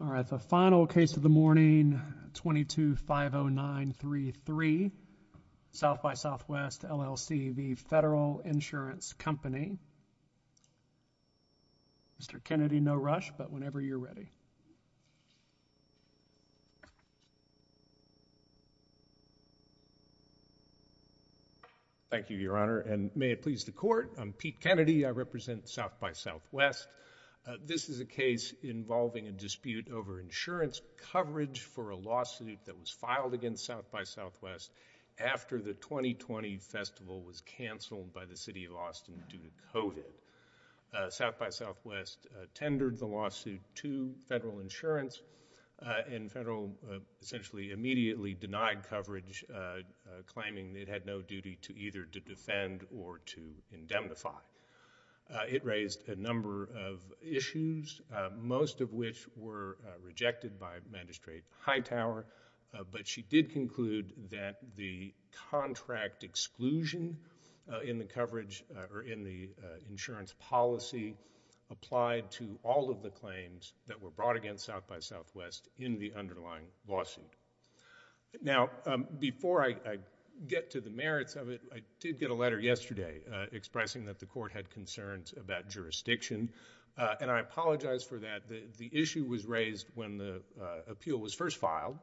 All right, the final case of the morning, 22-509-33, SXSW LLC v. Federal Insurance Company. Mr. Kennedy, no rush, but whenever you're ready. Thank you, Your Honor, and may it please the Court, I'm Pete Kennedy, I represent SXSW. This is a case involving a dispute over insurance coverage for a lawsuit that was filed against SXSW after the 2020 festival was canceled by the City of Austin due to COVID. SXSW tendered the lawsuit to Federal Insurance, and Federal essentially immediately denied coverage, claiming it had no duty to either to defend or to indemnify. It raised a number of issues, most of which were rejected by Magistrate Hightower, but she did conclude that the contract exclusion in the coverage or in the insurance policy applied to all of the claims that were brought against SXSW in the underlying lawsuit. Now before I get to the merits of it, I did get a letter yesterday expressing that the Court had concerns about jurisdiction, and I apologize for that. The issue was raised when the appeal was first filed,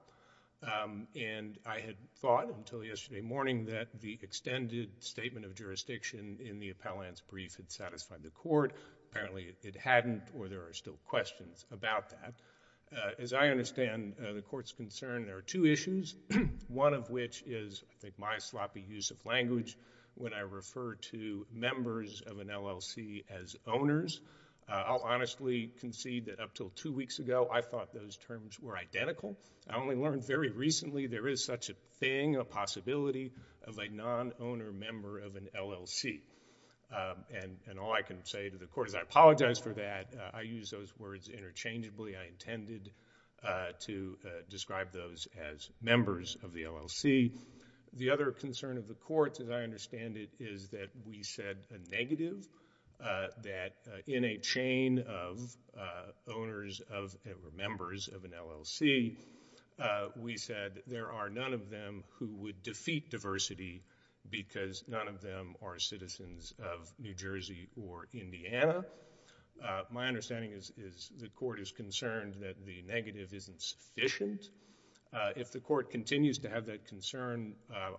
and I had thought until yesterday morning that the extended statement of jurisdiction in the appellant's brief had satisfied the Court. Apparently it hadn't, or there are still questions about that. As I understand the Court's concern, there are two issues, one of which is, I think, my sloppy use of language when I refer to members of an LLC as owners. I'll honestly concede that up until two weeks ago, I thought those terms were identical. I only learned very recently there is such a thing, a possibility, of a non-owner member of an LLC, and all I can say to the Court is I apologize for that. I use those words interchangeably. I intended to describe those as members of the LLC. The other concern of the Court, as I understand it, is that we said a negative, that in a chain of owners of, or members of an LLC, we said there are none of them who would defeat diversity because none of them are citizens of New Jersey or Indiana. My understanding is the Court is concerned that the negative isn't sufficient. If the Court continues to have that concern,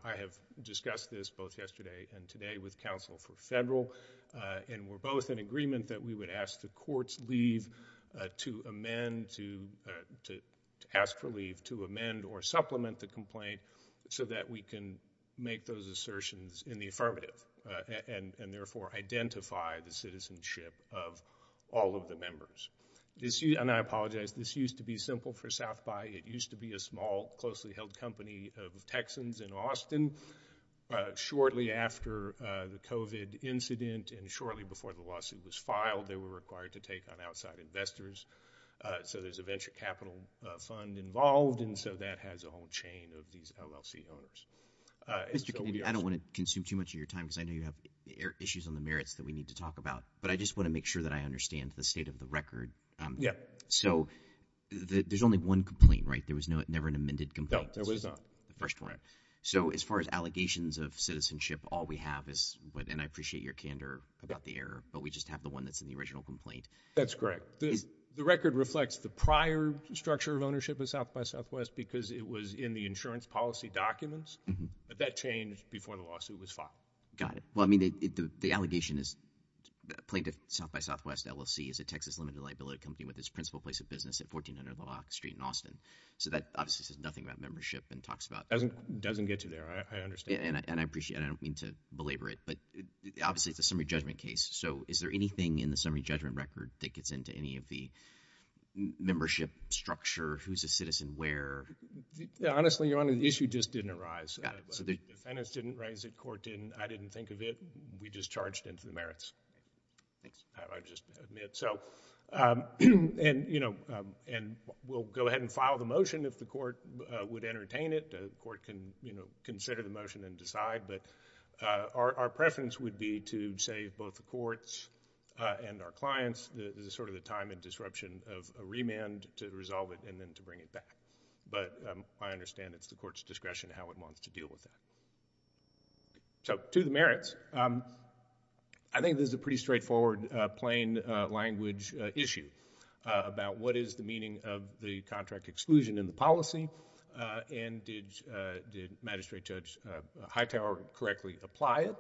I have discussed this both yesterday and today with counsel for federal, and we're both in agreement that we would ask the Court's leave to amend, to ask for leave to amend or supplement the complaint so that we can make those assertions in the affirmative, and therefore, identify the citizenship of all of the members. I apologize. This used to be simple for South By. It used to be a small, closely-held company of Texans in Austin. Shortly after the COVID incident and shortly before the lawsuit was filed, they were required to take on outside investors, so there's a venture capital fund involved, and so that has a whole chain of these LLC owners. Mr. Kennedy, I don't want to consume too much of your time because I know you have issues on the merits that we need to talk about, but I just want to make sure that I understand the state of the record. Yeah. So, there's only one complaint, right? There was never an amended complaint? No, there was not. The first one. Right. So, as far as allegations of citizenship, all we have is, and I appreciate your candor about the error, but we just have the one that's in the original complaint. That's correct. The record reflects the prior structure of ownership of South By Southwest because it was in the insurance policy documents, but that changed before the lawsuit was filed. Got it. Well, I mean, the allegation is plaintiff South By Southwest LLC is a Texas-limited liability company with its principal place of business at 1400 Lock Street in Austin, so that obviously says nothing about membership and talks about- Doesn't get you there. I understand. And I appreciate it. I don't mean to belabor it, but obviously it's a summary judgment case, so is there anything in the summary judgment record that gets into any of the membership structure, who's a citizen, where? Yeah. Honestly, Your Honor, the issue just didn't arise. Got it. Defendants didn't raise it. Court didn't. I didn't think of it. We just charged into the merits. Thanks. I just admit. So, and, you know, and we'll go ahead and file the motion if the court would entertain it. The court can, you know, consider the motion and decide, but our preference would be to say both the courts and our clients, this is sort of the time and disruption of a remand to resolve it and then to bring it back, but I understand it's the court's discretion how it wants to deal with that. So, to the merits, I think this is a pretty straightforward, plain language issue about what is the meaning of the contract exclusion in the policy and did Magistrate Judge Hightower correctly apply it.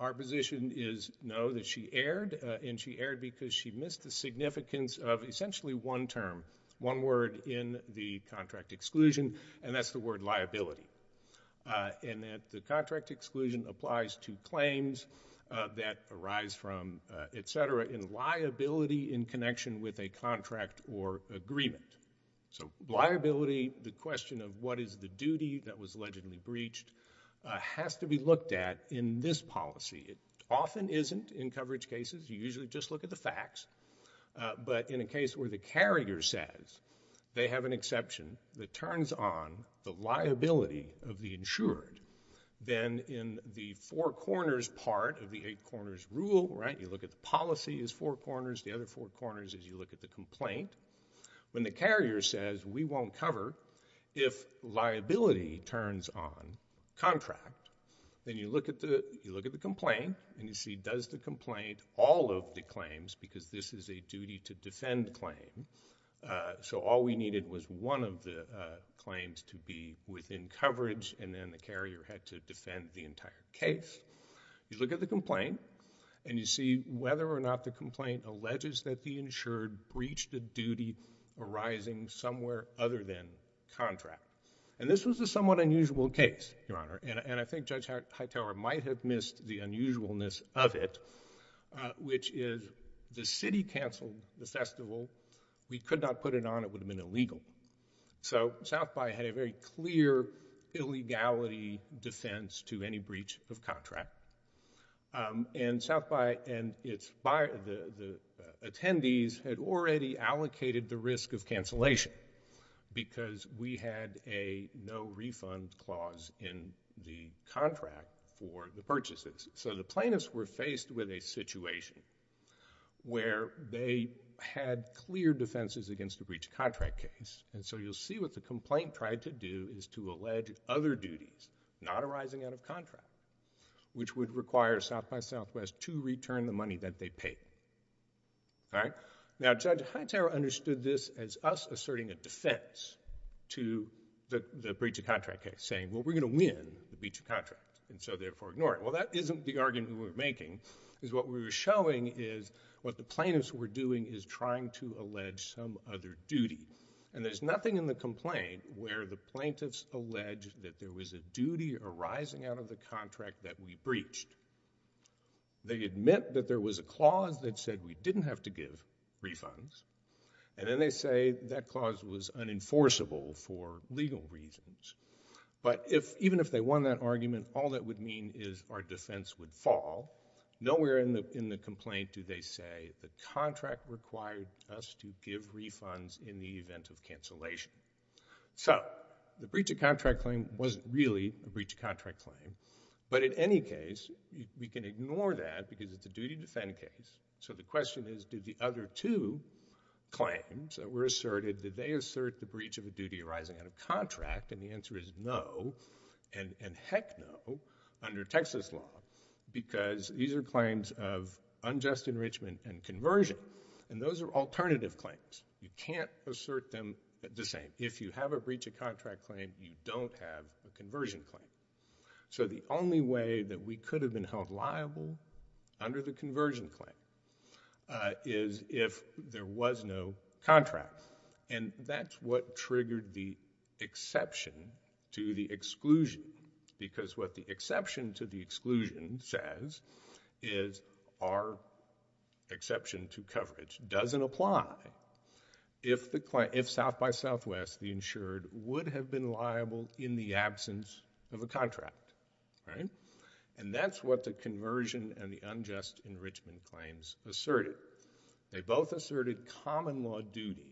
Our position is no, that she erred, and she erred because she missed the significance of essentially one term, one word in the contract exclusion, and that's the word liability. And that the contract exclusion applies to claims that arise from, et cetera, in liability in connection with a contract or agreement. So, liability, the question of what is the duty that was allegedly breached has to be looked at in this policy. It often isn't in coverage cases. You usually just look at the facts, but in a case where the carrier says they have an liability of the insured, then in the four corners part of the eight corners rule, right, you look at the policy as four corners, the other four corners as you look at the complaint. When the carrier says we won't cover if liability turns on contract, then you look at the complaint and you see does the complaint, all of the claims, because this is a duty to defend claim, so all we needed was one of the claims to be within coverage and then the carrier had to defend the entire case. You look at the complaint and you see whether or not the complaint alleges that the insured breached a duty arising somewhere other than contract. And this was a somewhat unusual case, Your Honor, and I think Judge Hightower might have missed the unusualness of it, which is the city canceled the festival. We could not put it on. It would have been illegal. So South By had a very clear illegality defense to any breach of contract. And South By and the attendees had already allocated the risk of cancellation because we had a no refund clause in the contract for the purchases. So the plaintiffs were faced with a situation where they had clear defenses against a breached contract case, and so you'll see what the complaint tried to do is to allege other duties not arising out of contract, which would require South By Southwest to return the money that they paid. All right? Now, Judge Hightower understood this as us asserting a defense to the breach of contract case, saying, well, we're going to win the breach of contract, and so therefore ignore it. Well, that isn't the argument we were making, because what we were showing is what the plaintiffs were doing is trying to allege some other duty. And there's nothing in the complaint where the plaintiffs allege that there was a duty arising out of the contract that we breached. They admit that there was a clause that said we didn't have to give refunds, and then they say that clause was unenforceable for legal reasons. But even if they won that argument, all that would mean is our defense would fall. Nowhere in the complaint do they say the contract required us to give refunds in the event of cancellation. So the breach of contract claim wasn't really a breach of contract claim. But in any case, we can ignore that, because it's a duty to defend case. So the question is, did the other two claims that were asserted, did they assert the breach of a duty arising out of contract? And the answer is no, and heck no, under Texas law, because these are claims of unjust enrichment and conversion. And those are alternative claims. You can't assert them the same. If you have a breach of contract claim, you don't have a conversion claim. So the only way that we could have been held liable under the conversion claim is if there was no contract. And that's what triggered the exception to the exclusion. Because what the exception to the exclusion says is our exception to coverage doesn't apply if South by Southwest, the insured, would have been liable in the absence of a contract. And that's what the conversion and the unjust enrichment claims asserted. They both asserted common law duties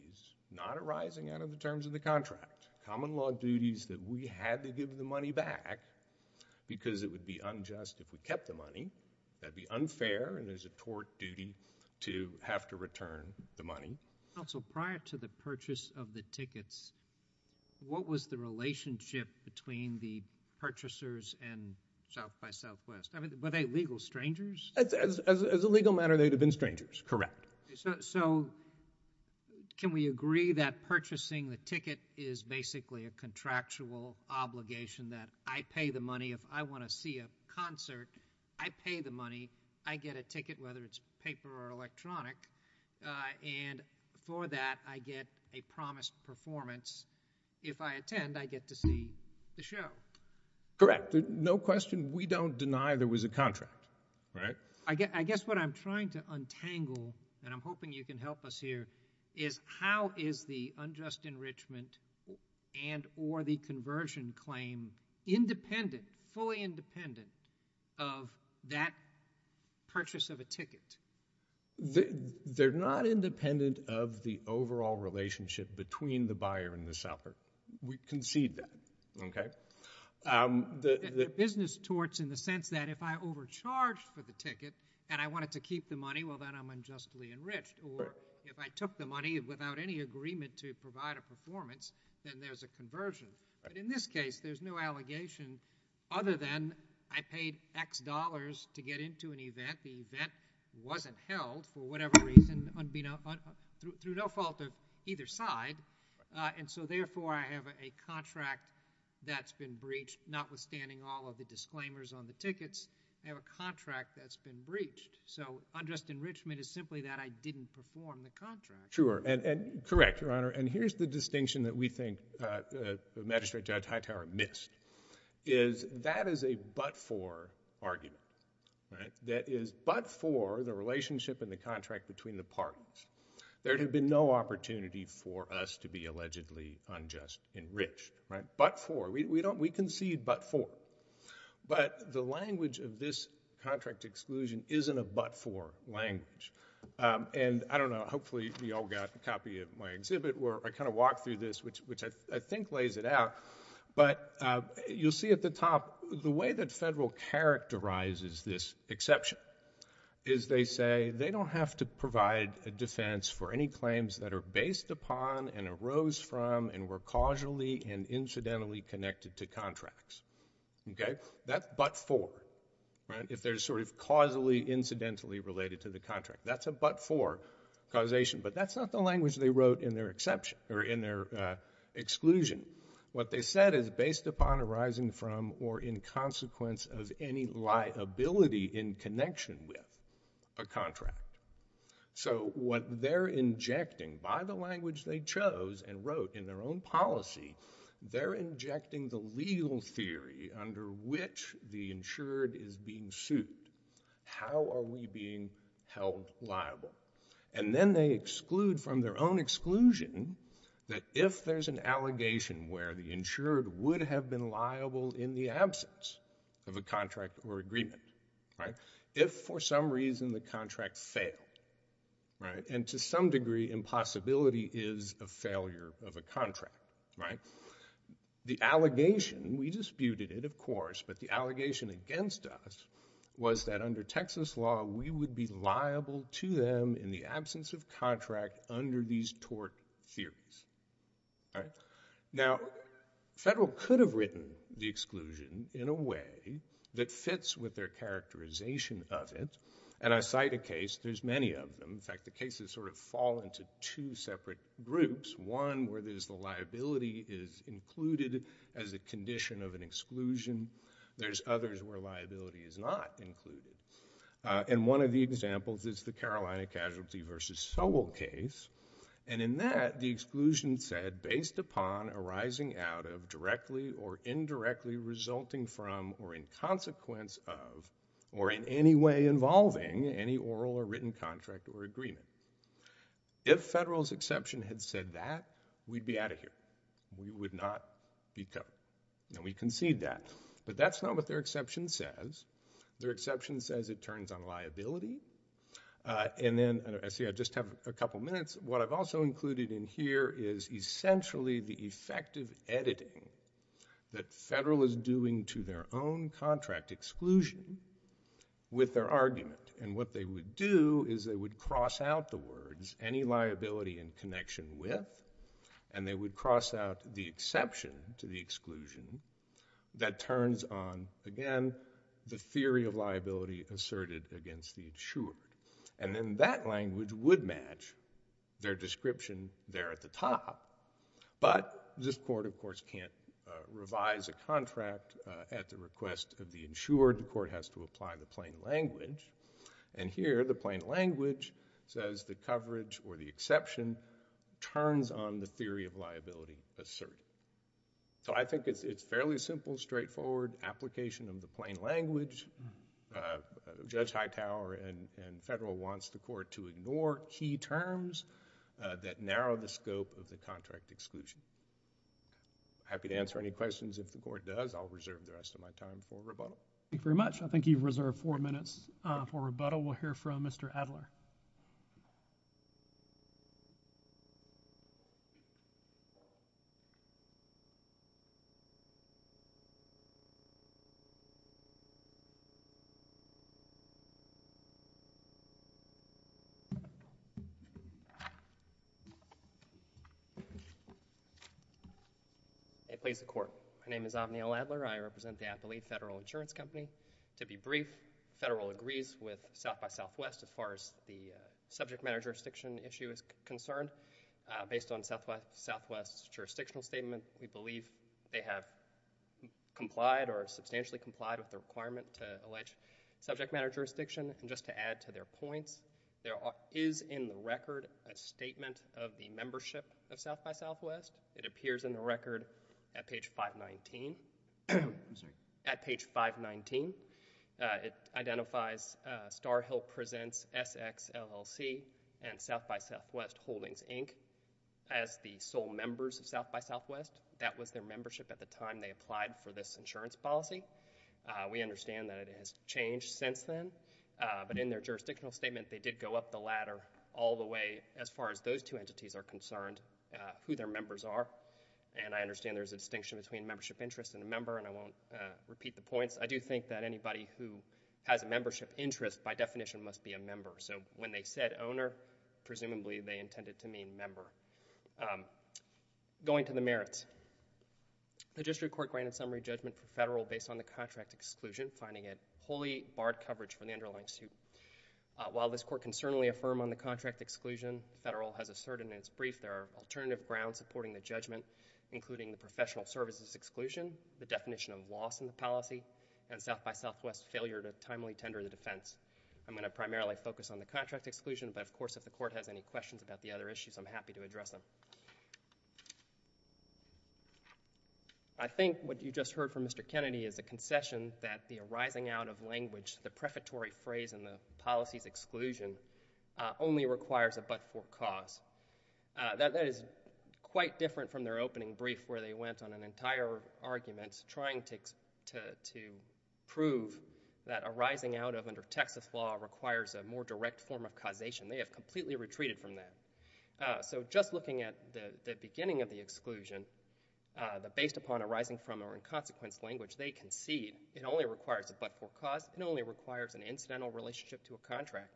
not arising out of the terms of the contract. Common law duties that we had to give the money back because it would be unjust if we kept the money. That would be unfair, and there's a tort duty to have to return the money. Counsel, prior to the purchase of the tickets, what was the relationship between the purchasers and South by Southwest? Were they legal strangers? As a legal matter, they would have been strangers, correct. So can we agree that purchasing the ticket is basically a contractual obligation that I pay the money if I want to see a concert, I pay the money, I get a ticket, whether it's paper or electronic, and for that, I get a promised performance. If I attend, I get to see the show. Correct. No question. We don't deny there was a contract, right? I guess what I'm trying to untangle, and I'm hoping you can help us here, is how is the unjust enrichment and or the conversion claim independent, fully independent of that purchase of a ticket? They're not independent of the overall relationship between the buyer and the seller. We concede that, okay? The business torts in the sense that if I overcharged for the ticket and I wanted to keep the money, well, then I'm unjustly enriched, or if I took the money without any agreement to provide a performance, then there's a conversion. But in this case, there's no allegation other than I paid X dollars to get into an event. The event wasn't held for whatever reason, through no fault of either side, and so, therefore, I have a contract that's been breached, notwithstanding all of the disclaimers on the tickets, I have a contract that's been breached. So, unjust enrichment is simply that I didn't perform the contract. Sure. Correct, Your Honor. And here's the distinction that we think Magistrate Judge Hightower missed, is that is a but-for argument, right? That is but-for the relationship and the contract between the parties. There had been no opportunity for us to be allegedly unjust enriched, right? But-for. We concede but-for. But the language of this contract exclusion isn't a but-for language. And, I don't know, hopefully you all got a copy of my exhibit where I kind of walk through this, which I think lays it out, but you'll see at the top, the way that federal characterizes this exception is they say they don't have to provide a defense for any claims that are based upon and arose from and were causally and incidentally connected to contracts. Okay? That's but-for, right? If they're sort of causally, incidentally related to the contract. That's a but-for causation, but that's not the language they wrote in their exception, or in their exclusion. What they said is based upon arising from or in consequence of any liability in connection with a contract. So, what they're injecting by the language they chose and wrote in their own policy, they're injecting the legal theory under which the insured is being sued. How are we being held liable? And then they exclude from their own exclusion that if there's an allegation where the insured would have been liable in the absence of a contract or agreement, right, if for some reason the contract failed, right, and to some degree impossibility is a failure of a contract, right, the allegation, we disputed it, of course, but the allegation against us was that under Texas law, we would be liable to them in the absence of contract under these tort theories, right? Now, federal could have written the exclusion in a way that fits with their characterization of it, and I cite a case, there's many of them. In fact, the cases sort of fall into two separate groups. One where there's the liability is included as a condition of an exclusion. There's others where liability is not included. And one of the examples is the Carolina Casualty v. Sobel case, and in that, the exclusion said, based upon arising out of, directly or indirectly resulting from, or in consequence of, or in any way involving any oral or written contract or agreement. If federal's exception had said that, we'd be out of here. We would not be covered. And we concede that. But that's not what their exception says. Their exception says it turns on liability. And then, see, I just have a couple minutes. What I've also included in here is essentially the effective editing that federal is doing to their own contract exclusion with their argument. And what they would do is they would cross out the words, any liability in connection with, and they would cross out the exception to the exclusion that turns on, again, the theory of liability asserted against the insured. And then that language would match their description there at the top. But this court, of course, can't revise a contract at the request of the insured. The court has to apply the plain language. And here, the plain language says the coverage or the exception turns on the theory of liability asserted. So I think it's fairly simple, straightforward application of the plain language. Judge Hightower and federal wants the court to ignore key terms that narrow the scope of the contract exclusion. Happy to answer any questions if the court does. I'll reserve the rest of my time for Roboto. Thank you very much. I think you've reserved four minutes for Roboto. We'll hear from Mr. Adler. I please the Court. My name is Avneel Adler. I represent the Atholete Federal Insurance Company. To be brief, federal agrees with South by Southwest as far as the subject matter jurisdiction issue is concerned. Based on Southwest's jurisdictional statement, we believe they have complied or substantially complied with the requirement to allege subject matter jurisdiction. And just to add to their points, there is in the record a statement of the membership of South by Southwest. It appears in the record at page 519. It identifies Star Hill Presents, SX, LLC, and South by Southwest Holdings, Inc. as the sole members of South by Southwest. That was their membership at the time they applied for this insurance policy. We understand that it has changed since then. But in their jurisdictional statement, they did go up the ladder all the way as far as those two entities are concerned, who their members are. And I understand there's a distinction between membership interest and a member, and I won't repeat the points. I do think that anybody who has a membership interest, by definition, must be a member. So when they said owner, presumably they intended to mean member. Going to the merits. The district court granted summary judgment for federal based on the contract exclusion, finding it wholly barred coverage for the underlying suit. While this court can certainly affirm on the contract exclusion, the federal has asserted in its brief there are alternative grounds supporting the judgment, including the professional services exclusion, the definition of loss in the policy, and South by Southwest's failure to timely tender the defense. I'm going to primarily focus on the contract exclusion, but of course if the court has any questions about the other issues, I'm happy to address them. I think what you just heard from Mr. Kennedy is a concession that the arising out of language, the prefatory phrase in the policy's exclusion, only requires a but-for cause. That is quite different from their opening brief where they went on an entire argument trying to prove that arising out of under Texas law requires a more direct form of causation. They have completely retreated from that. So just looking at the beginning of the exclusion, the based upon arising from or in consequence language, they concede it only requires a but-for cause. It only requires an incidental relationship to a contract.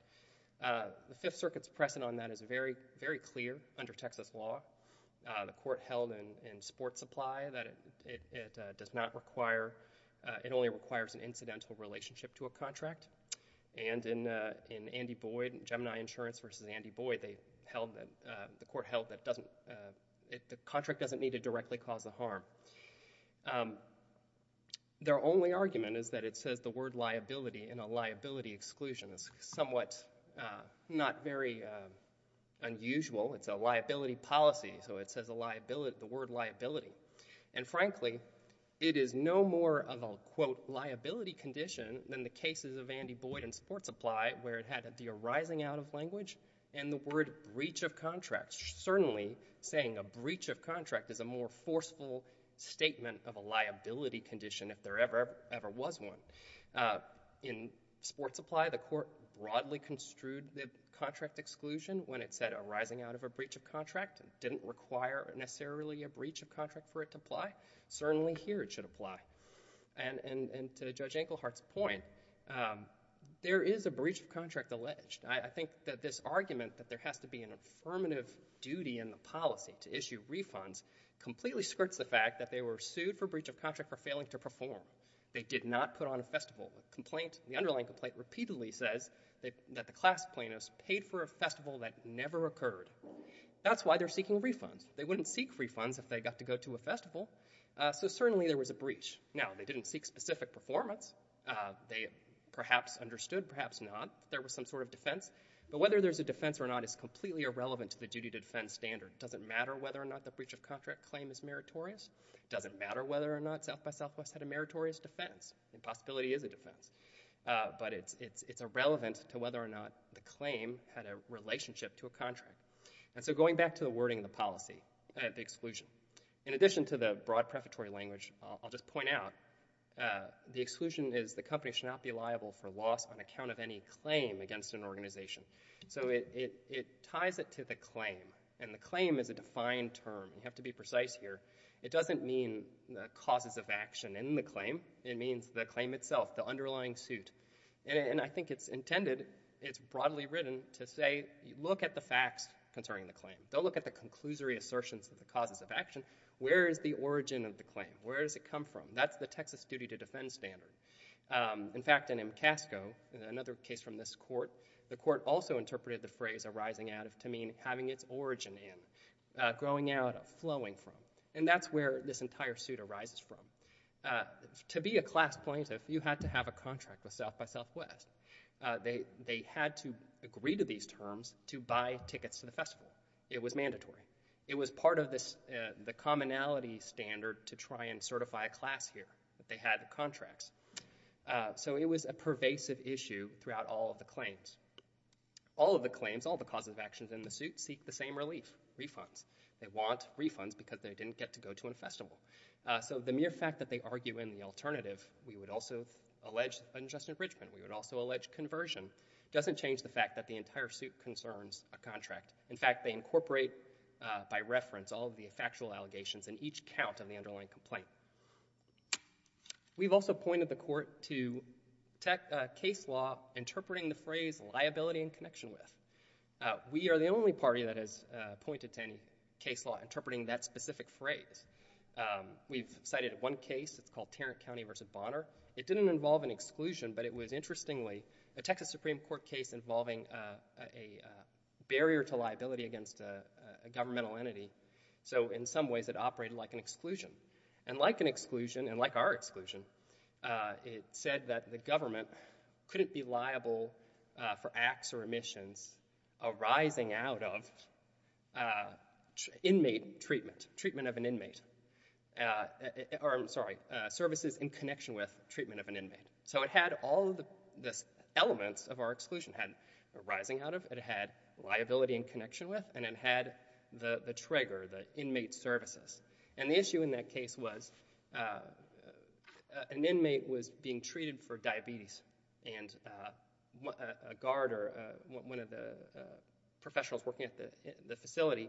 The Fifth Circuit's precedent on that is very clear under Texas law. The court held in sports supply that it does not require, it only requires an incidental relationship to a contract. And in Andy Boyd, Gemini Insurance versus Andy Boyd, the court held that the contract doesn't need to directly cause a harm. Their only argument is that it says the word liability in a liability exclusion. It's somewhat not very unusual. It's a liability policy, so it says the word liability. And frankly, it is no more of a, quote, liability condition than the cases of Andy Boyd in sports supply where it had the arising out of language and the word breach of contract. It's certainly saying a breach of contract is a more forceful statement of a liability condition if there ever was one. In sports supply, the court broadly construed the contract exclusion when it said arising out of a breach of contract. It didn't require necessarily a breach of contract for it to apply. Certainly here it should apply. And to Judge Enkelhardt's point, there is a breach of contract alleged. I think that this argument that there has to be an affirmative duty in the policy to issue refunds completely skirts the fact that they were sued for breach of contract for failing to perform. They did not put on a festival. The underlying complaint repeatedly says that the class plaintiffs paid for a festival that never occurred. That's why they're seeking refunds. They wouldn't seek refunds if they got to go to a festival, so certainly there was a breach. Now, they didn't seek specific performance. They perhaps understood, perhaps not. There was some sort of defense, but whether there's a defense or not is completely irrelevant to the duty to defend standard. It doesn't matter whether or not the breach of contract claim is meritorious. It doesn't matter whether or not South by Southwest had a meritorious defense. The possibility is a defense, but it's irrelevant to whether or not the claim had a relationship to a contract. And so going back to the wording of the policy, the exclusion, in addition to the broad prefatory language, I'll just point out the exclusion is the company should not be liable for loss on account of any claim against an organization. So it ties it to the claim, and the claim is a defined term. You have to be precise here. It doesn't mean the causes of action in the claim. It means the claim itself, the underlying suit. And I think it's intended, it's broadly written to say, look at the facts concerning the claim. Don't look at the conclusory assertions of the causes of action. Where is the origin of the claim? Where does it come from? That's the Texas duty to defend standard. In fact, in MCASCO, another case from this court, the court also interpreted the phrase arising out of to mean having its origin in, growing out of, flowing from. And that's where this entire suit arises from. To be a class plaintiff, you had to have a contract with South by Southwest. They had to agree to these terms to buy tickets to the festival. It was mandatory. It was part of the commonality standard to try and certify a class here. They had contracts. So it was a pervasive issue throughout all of the claims. All of the claims, all the causes of action in the suit seek the same relief, refunds. They want refunds because they didn't get to go to a festival. So the mere fact that they argue in the alternative, we would also allege unjust enrichment. We would also allege conversion. It doesn't change the fact that the entire suit concerns a contract. In fact, they incorporate by reference all of the factual allegations in each count of the underlying complaint. We've also pointed the court to case law interpreting the phrase liability in connection with. We are the only party that has pointed to any case law interpreting that specific phrase. We've cited one case. It's called Tarrant County v. Bonner. It didn't involve an exclusion, but it was, interestingly, a Texas Supreme Court case involving a barrier to liability against a governmental entity. So in some ways, it operated like an exclusion. And like an exclusion, and like our exclusion, it said that the government couldn't be liable for acts or omissions arising out of inmate treatment, treatment of an inmate, or I'm sorry, services in connection with treatment of an inmate. So it had all of the elements of our exclusion arising out of, it had liability in connection with, and it had the trigger, the inmate services. And the issue in that case was an inmate was being treated for diabetes, and a guard or one of the professionals working at the facility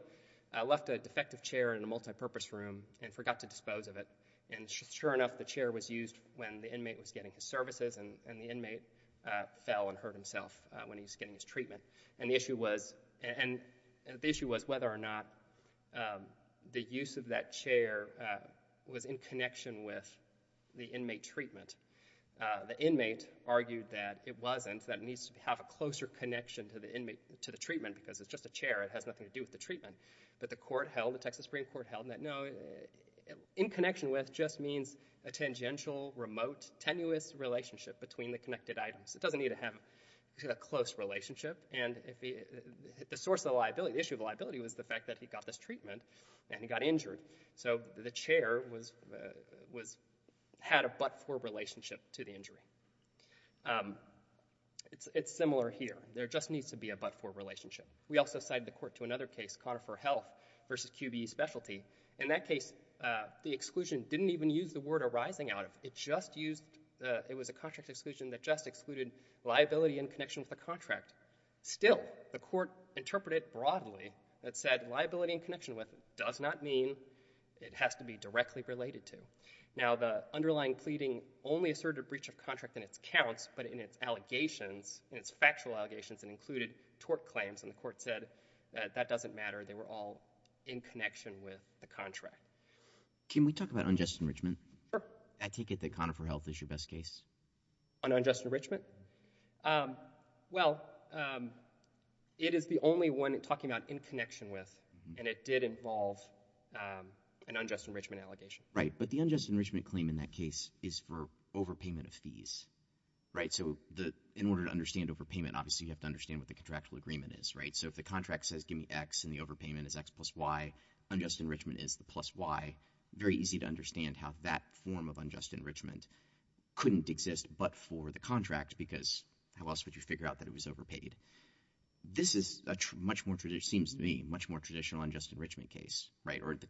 left a defective chair in a multipurpose room and forgot to dispose of it. And sure enough, the chair was used when the inmate was getting his services, and the inmate fell and hurt himself when he was getting his treatment. And the issue was whether or not the use of that chair was in connection with the inmate treatment. The inmate argued that it wasn't, that it needs to have a closer connection to the treatment because it's just a chair, it has nothing to do with the treatment. But the court held, the Texas Supreme Court held, that no, in connection with just means a tangential, remote, tenuous relationship between the connected items. It doesn't need to have a close relationship. And the source of the liability, the issue of liability, was the fact that he got this treatment and he got injured. So the chair had a but-for relationship to the injury. It's similar here. There just needs to be a but-for relationship. We also cited the court to another case, Conifer Health versus QBE Specialty. In that case, the exclusion didn't even use the word arising out of. It just used, it was a contract exclusion that just excluded liability in connection with the contract. Still, the court interpreted broadly that said liability in connection with does not mean it has to be directly related to. Now the underlying pleading only asserted a breach of contract in its counts, but in its allegations, in its factual allegations, it included tort claims, and the court said that that doesn't matter. They were all in connection with the contract. Can we talk about unjust enrichment? Sure. I take it that Conifer Health is your best case. On unjust enrichment? Well, it is the only one talking about in connection with, and it did involve an unjust enrichment allegation. So in order to understand overpayment, obviously you have to understand what the contractual agreement is. So if the contract says give me X and the overpayment is X plus Y, unjust enrichment is the plus Y, very easy to understand how that form of unjust enrichment couldn't exist but for the contract because how else would you figure out that it was overpaid? This is a much more traditional, it seems to me, much more traditional unjust enrichment case, or the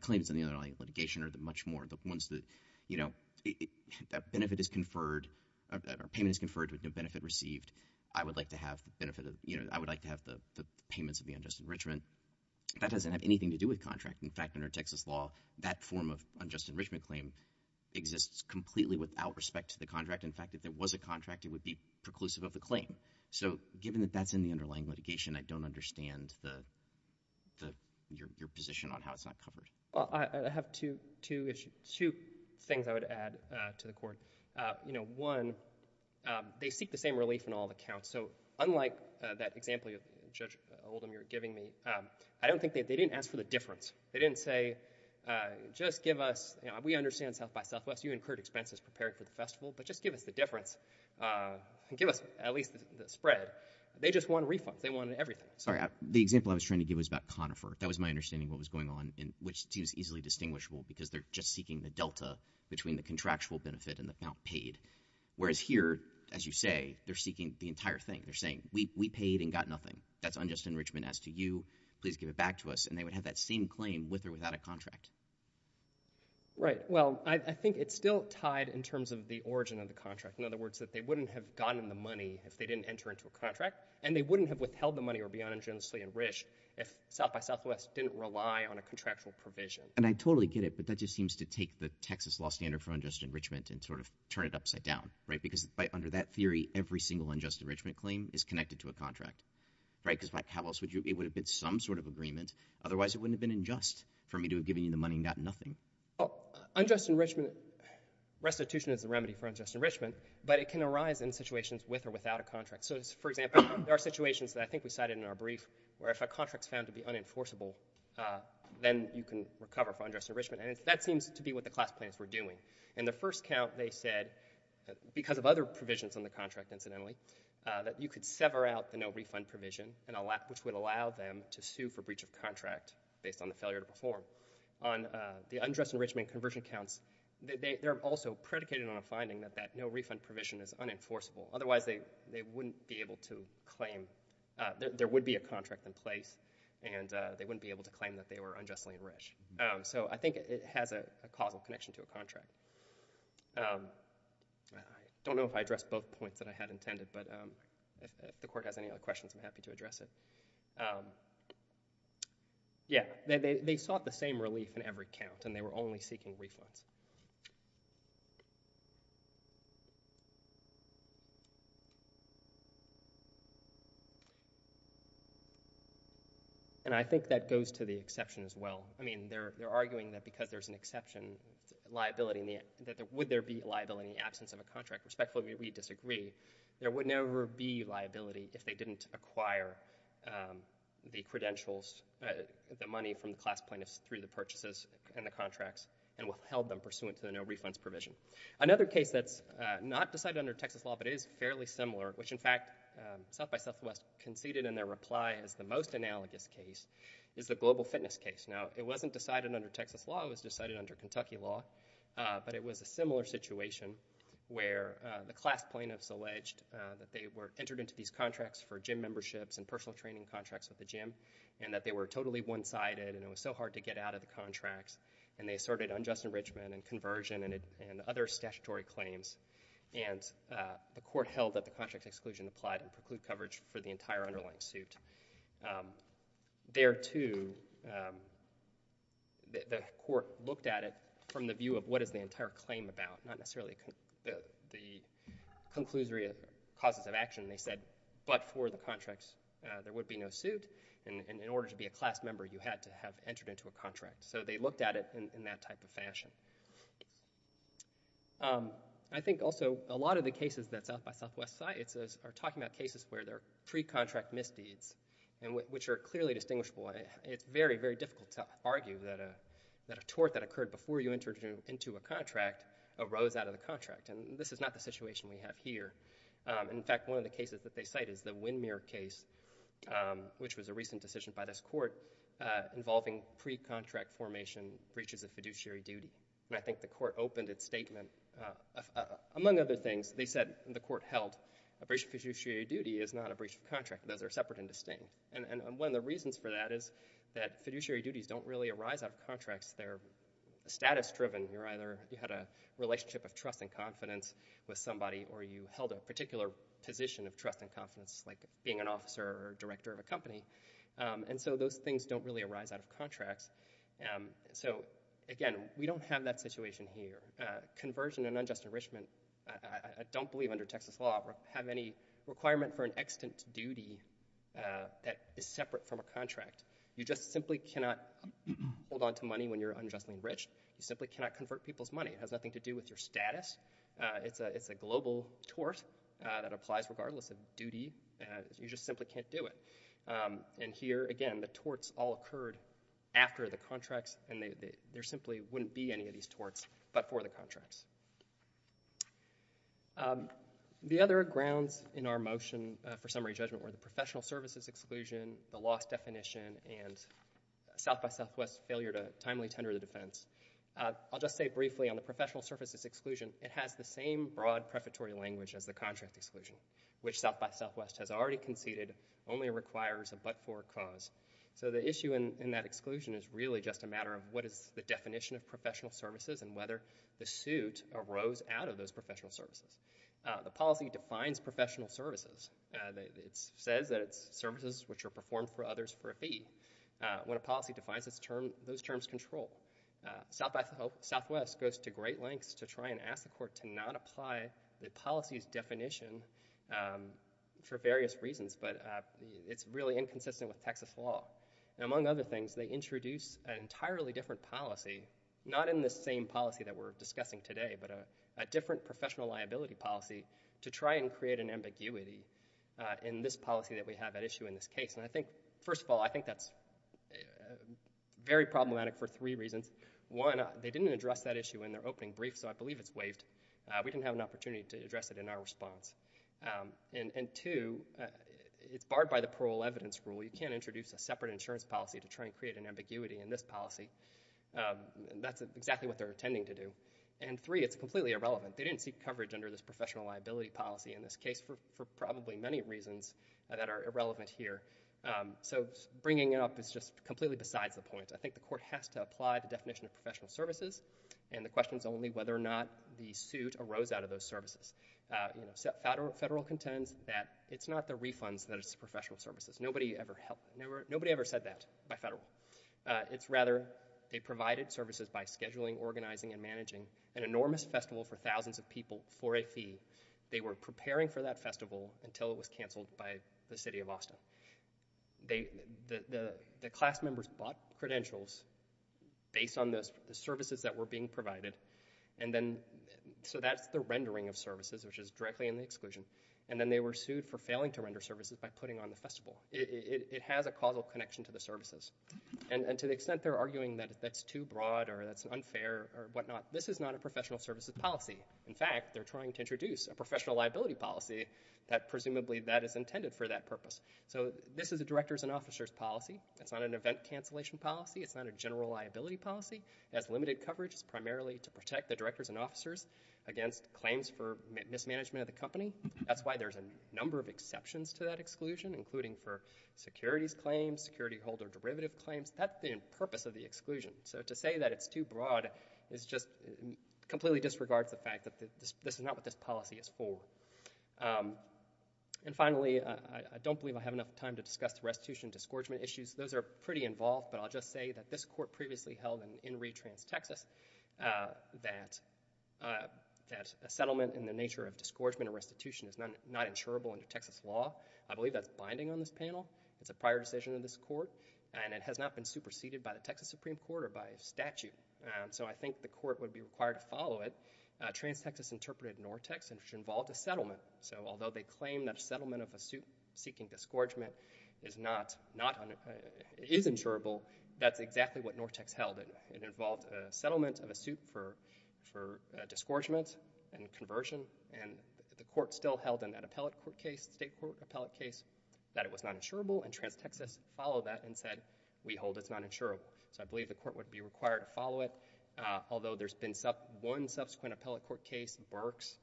claims in the underlying litigation are the much more, the ones that benefit is conferred or payment is conferred with no benefit received. I would like to have the payments of the unjust enrichment. That doesn't have anything to do with contract. In fact, under Texas law, that form of unjust enrichment claim exists completely without respect to the contract. In fact, if there was a contract, it would be preclusive of the claim. So given that that's in the underlying litigation, I don't understand your position on how it's not covered. Well, I have two things I would add to the court. One, they seek the same relief in all accounts. So unlike that example Judge Oldham you're giving me, I don't think they didn't ask for the difference. They didn't say just give us, we understand South by Southwest, you incurred expenses preparing for the festival, but just give us the difference and give us at least the spread. They just want refunds. They wanted everything. Sorry, the example I was trying to give was about Conifer. That was my understanding of what was going on, which seems easily distinguishable because they're just seeking the delta between the contractual benefit and the amount paid. Whereas here, as you say, they're seeking the entire thing. They're saying we paid and got nothing. That's unjust enrichment as to you. Please give it back to us. And they would have that same claim with or without a contract. Right. Well, I think it's still tied in terms of the origin of the contract. In other words, that they wouldn't have gotten the money if they didn't enter into a contract and they wouldn't have withheld the money or be uningenuously enriched if South by Southwest didn't rely on a contractual provision. And I totally get it, but that just seems to take the Texas law standard for unjust enrichment and sort of turn it upside down, right? Because under that theory, every single unjust enrichment claim is connected to a contract, right? Because how else would you, it would have been some sort of agreement. Otherwise it wouldn't have been unjust for me to have given you the money and got nothing. Oh, unjust enrichment restitution is the remedy for unjust enrichment, but it can arise in situations with or without a contract. So for example, there are situations that I think we cited in our brief where if a contract is found to be unenforceable, then you can recover for unjust enrichment. And that seems to be what the class plans were doing. And the first count, they said because of other provisions on the contract, incidentally, that you could sever out the no refund provision and a lack, which would allow them to sue for breach of contract based on the failure to perform on the unjust enrichment conversion counts. They're also predicated on a finding that that no refund provision is unenforceable. Otherwise they wouldn't be able to claim, there would be a contract in place and they wouldn't be able to claim that they were unjustly enriched. So I think it has a causal connection to a contract. I don't know if I addressed both points that I had intended, but if the court has any other questions, I'm happy to address it. Yeah. They sought the same relief in every count and they were only seeking refunds. And I think that goes to the exception as well. I mean, they're arguing that because there's an exception liability in the, that there would there be a liability in the absence of a contract. Respectfully, we disagree there would never be liability if they didn't acquire the credentials, the money from the class plaintiffs through the purchases and the contracts and held them pursuant to the no refunds provision. Another case that's not decided under Texas law, but it is fairly similar, which in fact South by Southwest conceded in their reply as the most analogous case is the global fitness case. Now it wasn't decided under Texas law. It was decided under Kentucky law, but it was a similar situation where the class plaintiffs alleged that they were entered into these contracts for gym memberships and personal training contracts with the gym and that they were totally one sided and it was so hard to get out of the contracts and they asserted unjust enrichment and conversion and other statutory claims. And the court held that the contract exclusion applied and preclude coverage for the entire underlying suit. There too, the court looked at it from the view of what is the entire claim about not They said, but for the contracts, there would be no suit and in order to be a class member, you had to have entered into a contract. So they looked at it in that type of fashion. I think also a lot of the cases that South by Southwest sites are talking about cases where they're pre-contract misdeeds and which are clearly distinguishable. It's very, very difficult to argue that a tort that occurred before you entered into a contract arose out of the contract. And this is not the situation we have here. In fact, one of the cases that they cite is the windmere case, which was a recent decision by this court involving pre-contract formation breaches of fiduciary duty. And I think the court opened its statement. Among other things, they said the court held a breach of fiduciary duty is not a breach of contract. Those are separate and distinct. And one of the reasons for that is that fiduciary duties don't really arise out of contracts. They're status driven. You're either, you had a relationship of trust and confidence with somebody, or you held a particular position of trust and confidence, like being an officer or director of a company. And so those things don't really arise out of contracts. So again, we don't have that situation here. Conversion and unjust enrichment, I don't believe under Texas law, have any requirement for an extant duty that is separate from a contract. You just simply cannot hold onto money when you're unjustly enriched. You simply cannot convert people's money. It has nothing to do with your status. It's a global tort that applies regardless of duty. You just simply can't do it. And here again, the torts all occurred after the contracts and there simply wouldn't be any of these torts, but for the contracts. The other grounds in our motion for summary judgment were the professional services exclusion, the loss definition and South by Southwest failure to timely tender the contract. I'll just say briefly on the professional services exclusion, it has the same broad prefatory language as the contract exclusion, which South by Southwest has already conceded only requires a but for cause. So the issue in that exclusion is really just a matter of what is the definition of professional services and whether the suit arose out of those professional services. The policy defines professional services. It says that it's services which are performed for others for a fee. When a policy defines those terms control. Southwest goes to great lengths to try and ask the court to not apply the policy's definition for various reasons, but it's really inconsistent with Texas law. And among other things, they introduce an entirely different policy, not in the same policy that we're discussing today, but a different professional liability policy to try and create an ambiguity in this policy that we have at issue in this case. And I think, first of all, I think that's very problematic for three reasons. One, they didn't address that issue in their opening brief, so I believe it's waived. We didn't have an opportunity to address it in our response. And two, it's barred by the parole evidence rule. You can't introduce a separate insurance policy to try and create an ambiguity in this policy. And that's exactly what they're intending to do. And three, it's completely irrelevant. They didn't seek coverage under this professional liability policy in this case for probably many reasons that are irrelevant here. So bringing it up is just completely besides the point. I think the court has to apply the definition of professional services, and the question is only whether or not the suit arose out of those services. You know, federal contends that it's not the refunds that is professional services. Nobody ever said that by federal. It's rather they provided services by scheduling, organizing, and managing an enormous festival for thousands of people for a fee. They were preparing for that festival until it was canceled by the city of New York. The class members bought credentials based on the services that were being provided. And then so that's the rendering of services, which is directly in the exclusion. And then they were sued for failing to render services by putting on the festival. It has a causal connection to the services. And to the extent they're arguing that that's too broad or that's unfair or whatnot, this is not a professional services policy. In fact, they're trying to introduce a professional liability policy that presumably that is intended for that purpose. So this is a directors and officers policy. It's not an event cancellation policy. It's not a general liability policy. It has limited coverage. It's primarily to protect the directors and officers against claims for mismanagement of the company. That's why there's a number of exceptions to that exclusion, including for securities claims, security holder derivative claims. That's the purpose of the exclusion. So to say that it's too broad is just completely disregards the fact that this is not what this policy is for. And finally, I don't believe I have enough time to discuss the restitution and disgorgement issues. Those are pretty involved, but I'll just say that this court previously held in Reed, Trans-Texas, that a settlement in the nature of disgorgement or restitution is not insurable under Texas law. I believe that's binding on this panel. It's a prior decision of this court, and it has not been superseded by the Texas Supreme Court or by statute. So I think the court would be required to follow it. Trans-Texas interpreted Nortex, and it involved a settlement. So although they claim that a settlement of a suit seeking disgorgement is insurable, that's exactly what Nortex held. It involved a settlement of a suit for disgorgement and conversion, and the court still held in that appellate court case, state court appellate case, that it was not insurable, and Trans-Texas followed that and said, we hold it's not insurable. So I believe the court would be required to follow it. Although there's been one subsequent appellate court case, Berks,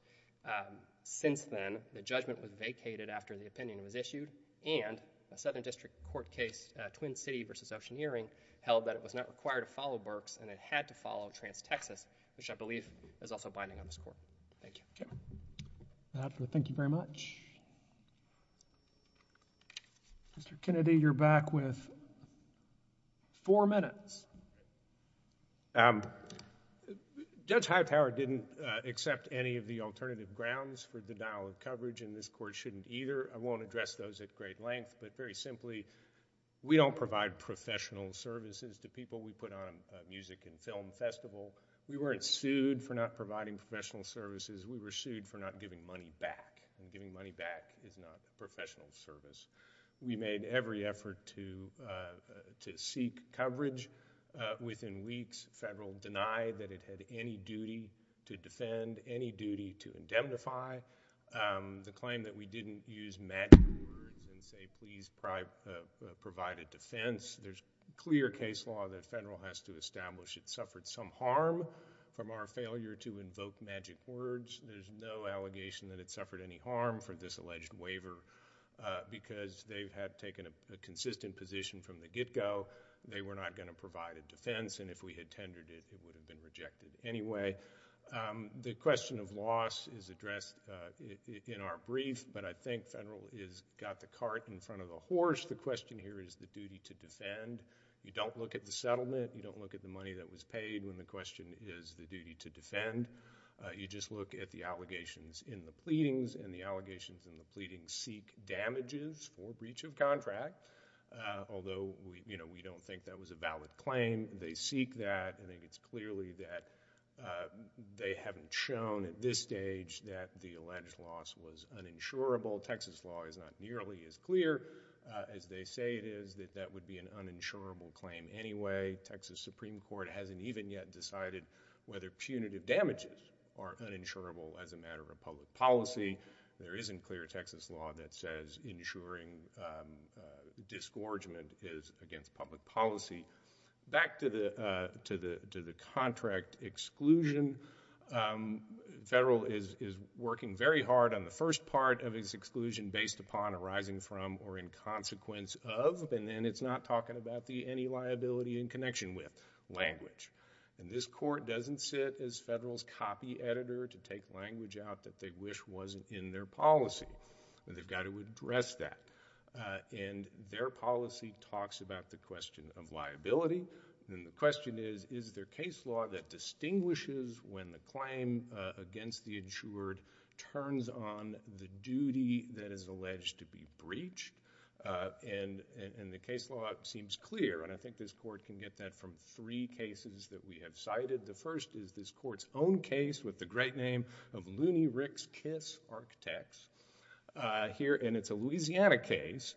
since then, the judgment was vacated after the opinion was issued, and a Southern District Court case, Twin City versus Ocean Earring, held that it was not required to follow Berks, and it had to follow Trans-Texas, which I believe is also binding on this court. Thank you. Thank you very much. Mr. Kennedy, you're back with four minutes. Judge Hightower didn't accept any of the alternative grounds for denial of coverage, and this court shouldn't either. I won't address those at great length, but very simply, we don't provide professional services to people we put on a music and film festival. We weren't sued for not providing professional services. We were sued for not giving money back, and giving money back is not professional service. We made every effort to seek coverage. Within weeks, federal denied that it had any duty to defend, any duty to indemnify. The claim that we didn't use magic words and say please provide a defense, there's clear case law that federal has to establish it suffered some harm from our failure to invoke magic words. There's no allegation that it suffered any harm for this alleged waiver, because they had taken a consistent position from the get-go. They were not going to provide a defense, and if we had tendered it, it would have been rejected anyway. The question of loss is addressed in our brief, but I think federal has got the cart in front of the horse. The question here is the duty to defend. You don't look at the settlement. You don't look at the money that was paid when the question is the duty to defend. You just look at the allegations in the pleadings, and the allegations in the pleadings seek damages for breach of contract, although we don't think that was a valid claim. They seek that. I think it's clearly that they haven't shown at this stage that the alleged loss was uninsurable. Texas law is not nearly as clear as they say it is that that would be an uninsurable claim anyway. Texas Supreme Court hasn't even yet decided whether punitive damages are uninsurable as a matter of public policy. There isn't clear Texas law that says ensuring disgorgement is against public policy. Back to the contract exclusion, federal is working very hard on the first part of its exclusion based upon arising from or in consequence of, and then it's not talking about the any liability in connection with, language. And this court doesn't sit as federal's copy editor to take language out that they wish wasn't in their policy. They've got to address that. And their policy talks about the question of liability, and the question is, is there case law that distinguishes when the claim against the insured turns on the duty that is alleged to be breached? And the case law seems clear, and I think this court can get that from three cases that we have cited. The first is this court's own case with the great name of Looney Rick's Kiss Architects here, and it's a Louisiana case,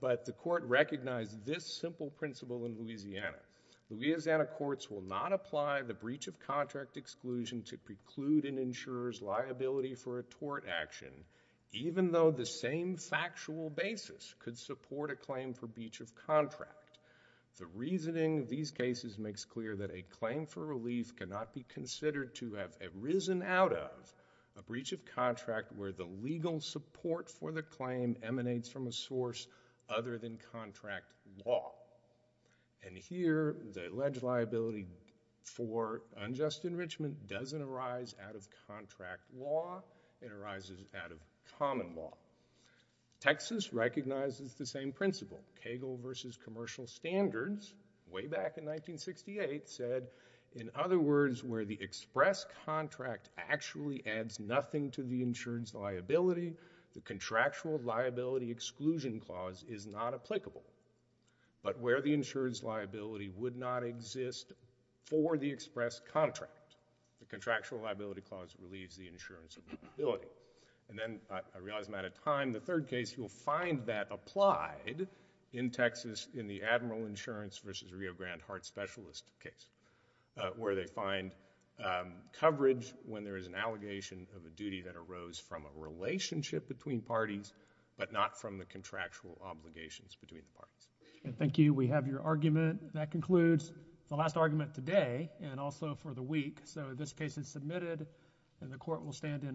but the court recognized this simple principle in Louisiana. Louisiana courts will not apply the breach of contract exclusion to preclude an insurer's liability for a tort action, even though the same factual basis could support a claim for breach of contract. The reasoning of these cases makes clear that a claim for relief cannot be considered to have arisen out of a breach of contract where the legal support for the claim emanates from a source other than contract law. And here, the alleged liability for unjust enrichment doesn't arise out of contract law, it arises out of common law. Texas recognizes the same principle. Cagle v. Commercial Standards, way back in 1968, said, in other words, where the express contract actually adds nothing to the insurance liability, the contractual liability exclusion clause is not applicable. But where the insurance liability would not exist for the express contract, the contractual liability clause relieves the insurance liability. And then, I realize I'm out of time, the third case, you'll find that applied in Texas in the Admiral Insurance v. Rio Grande Heart Specialist case, where they find coverage when there is an allegation of a duty that arose from a relationship between parties but not from the contractual obligations between the parties. Thank you. We have your argument. That concludes the last argument today and also for the week. So this case is submitted, and the court will stand in.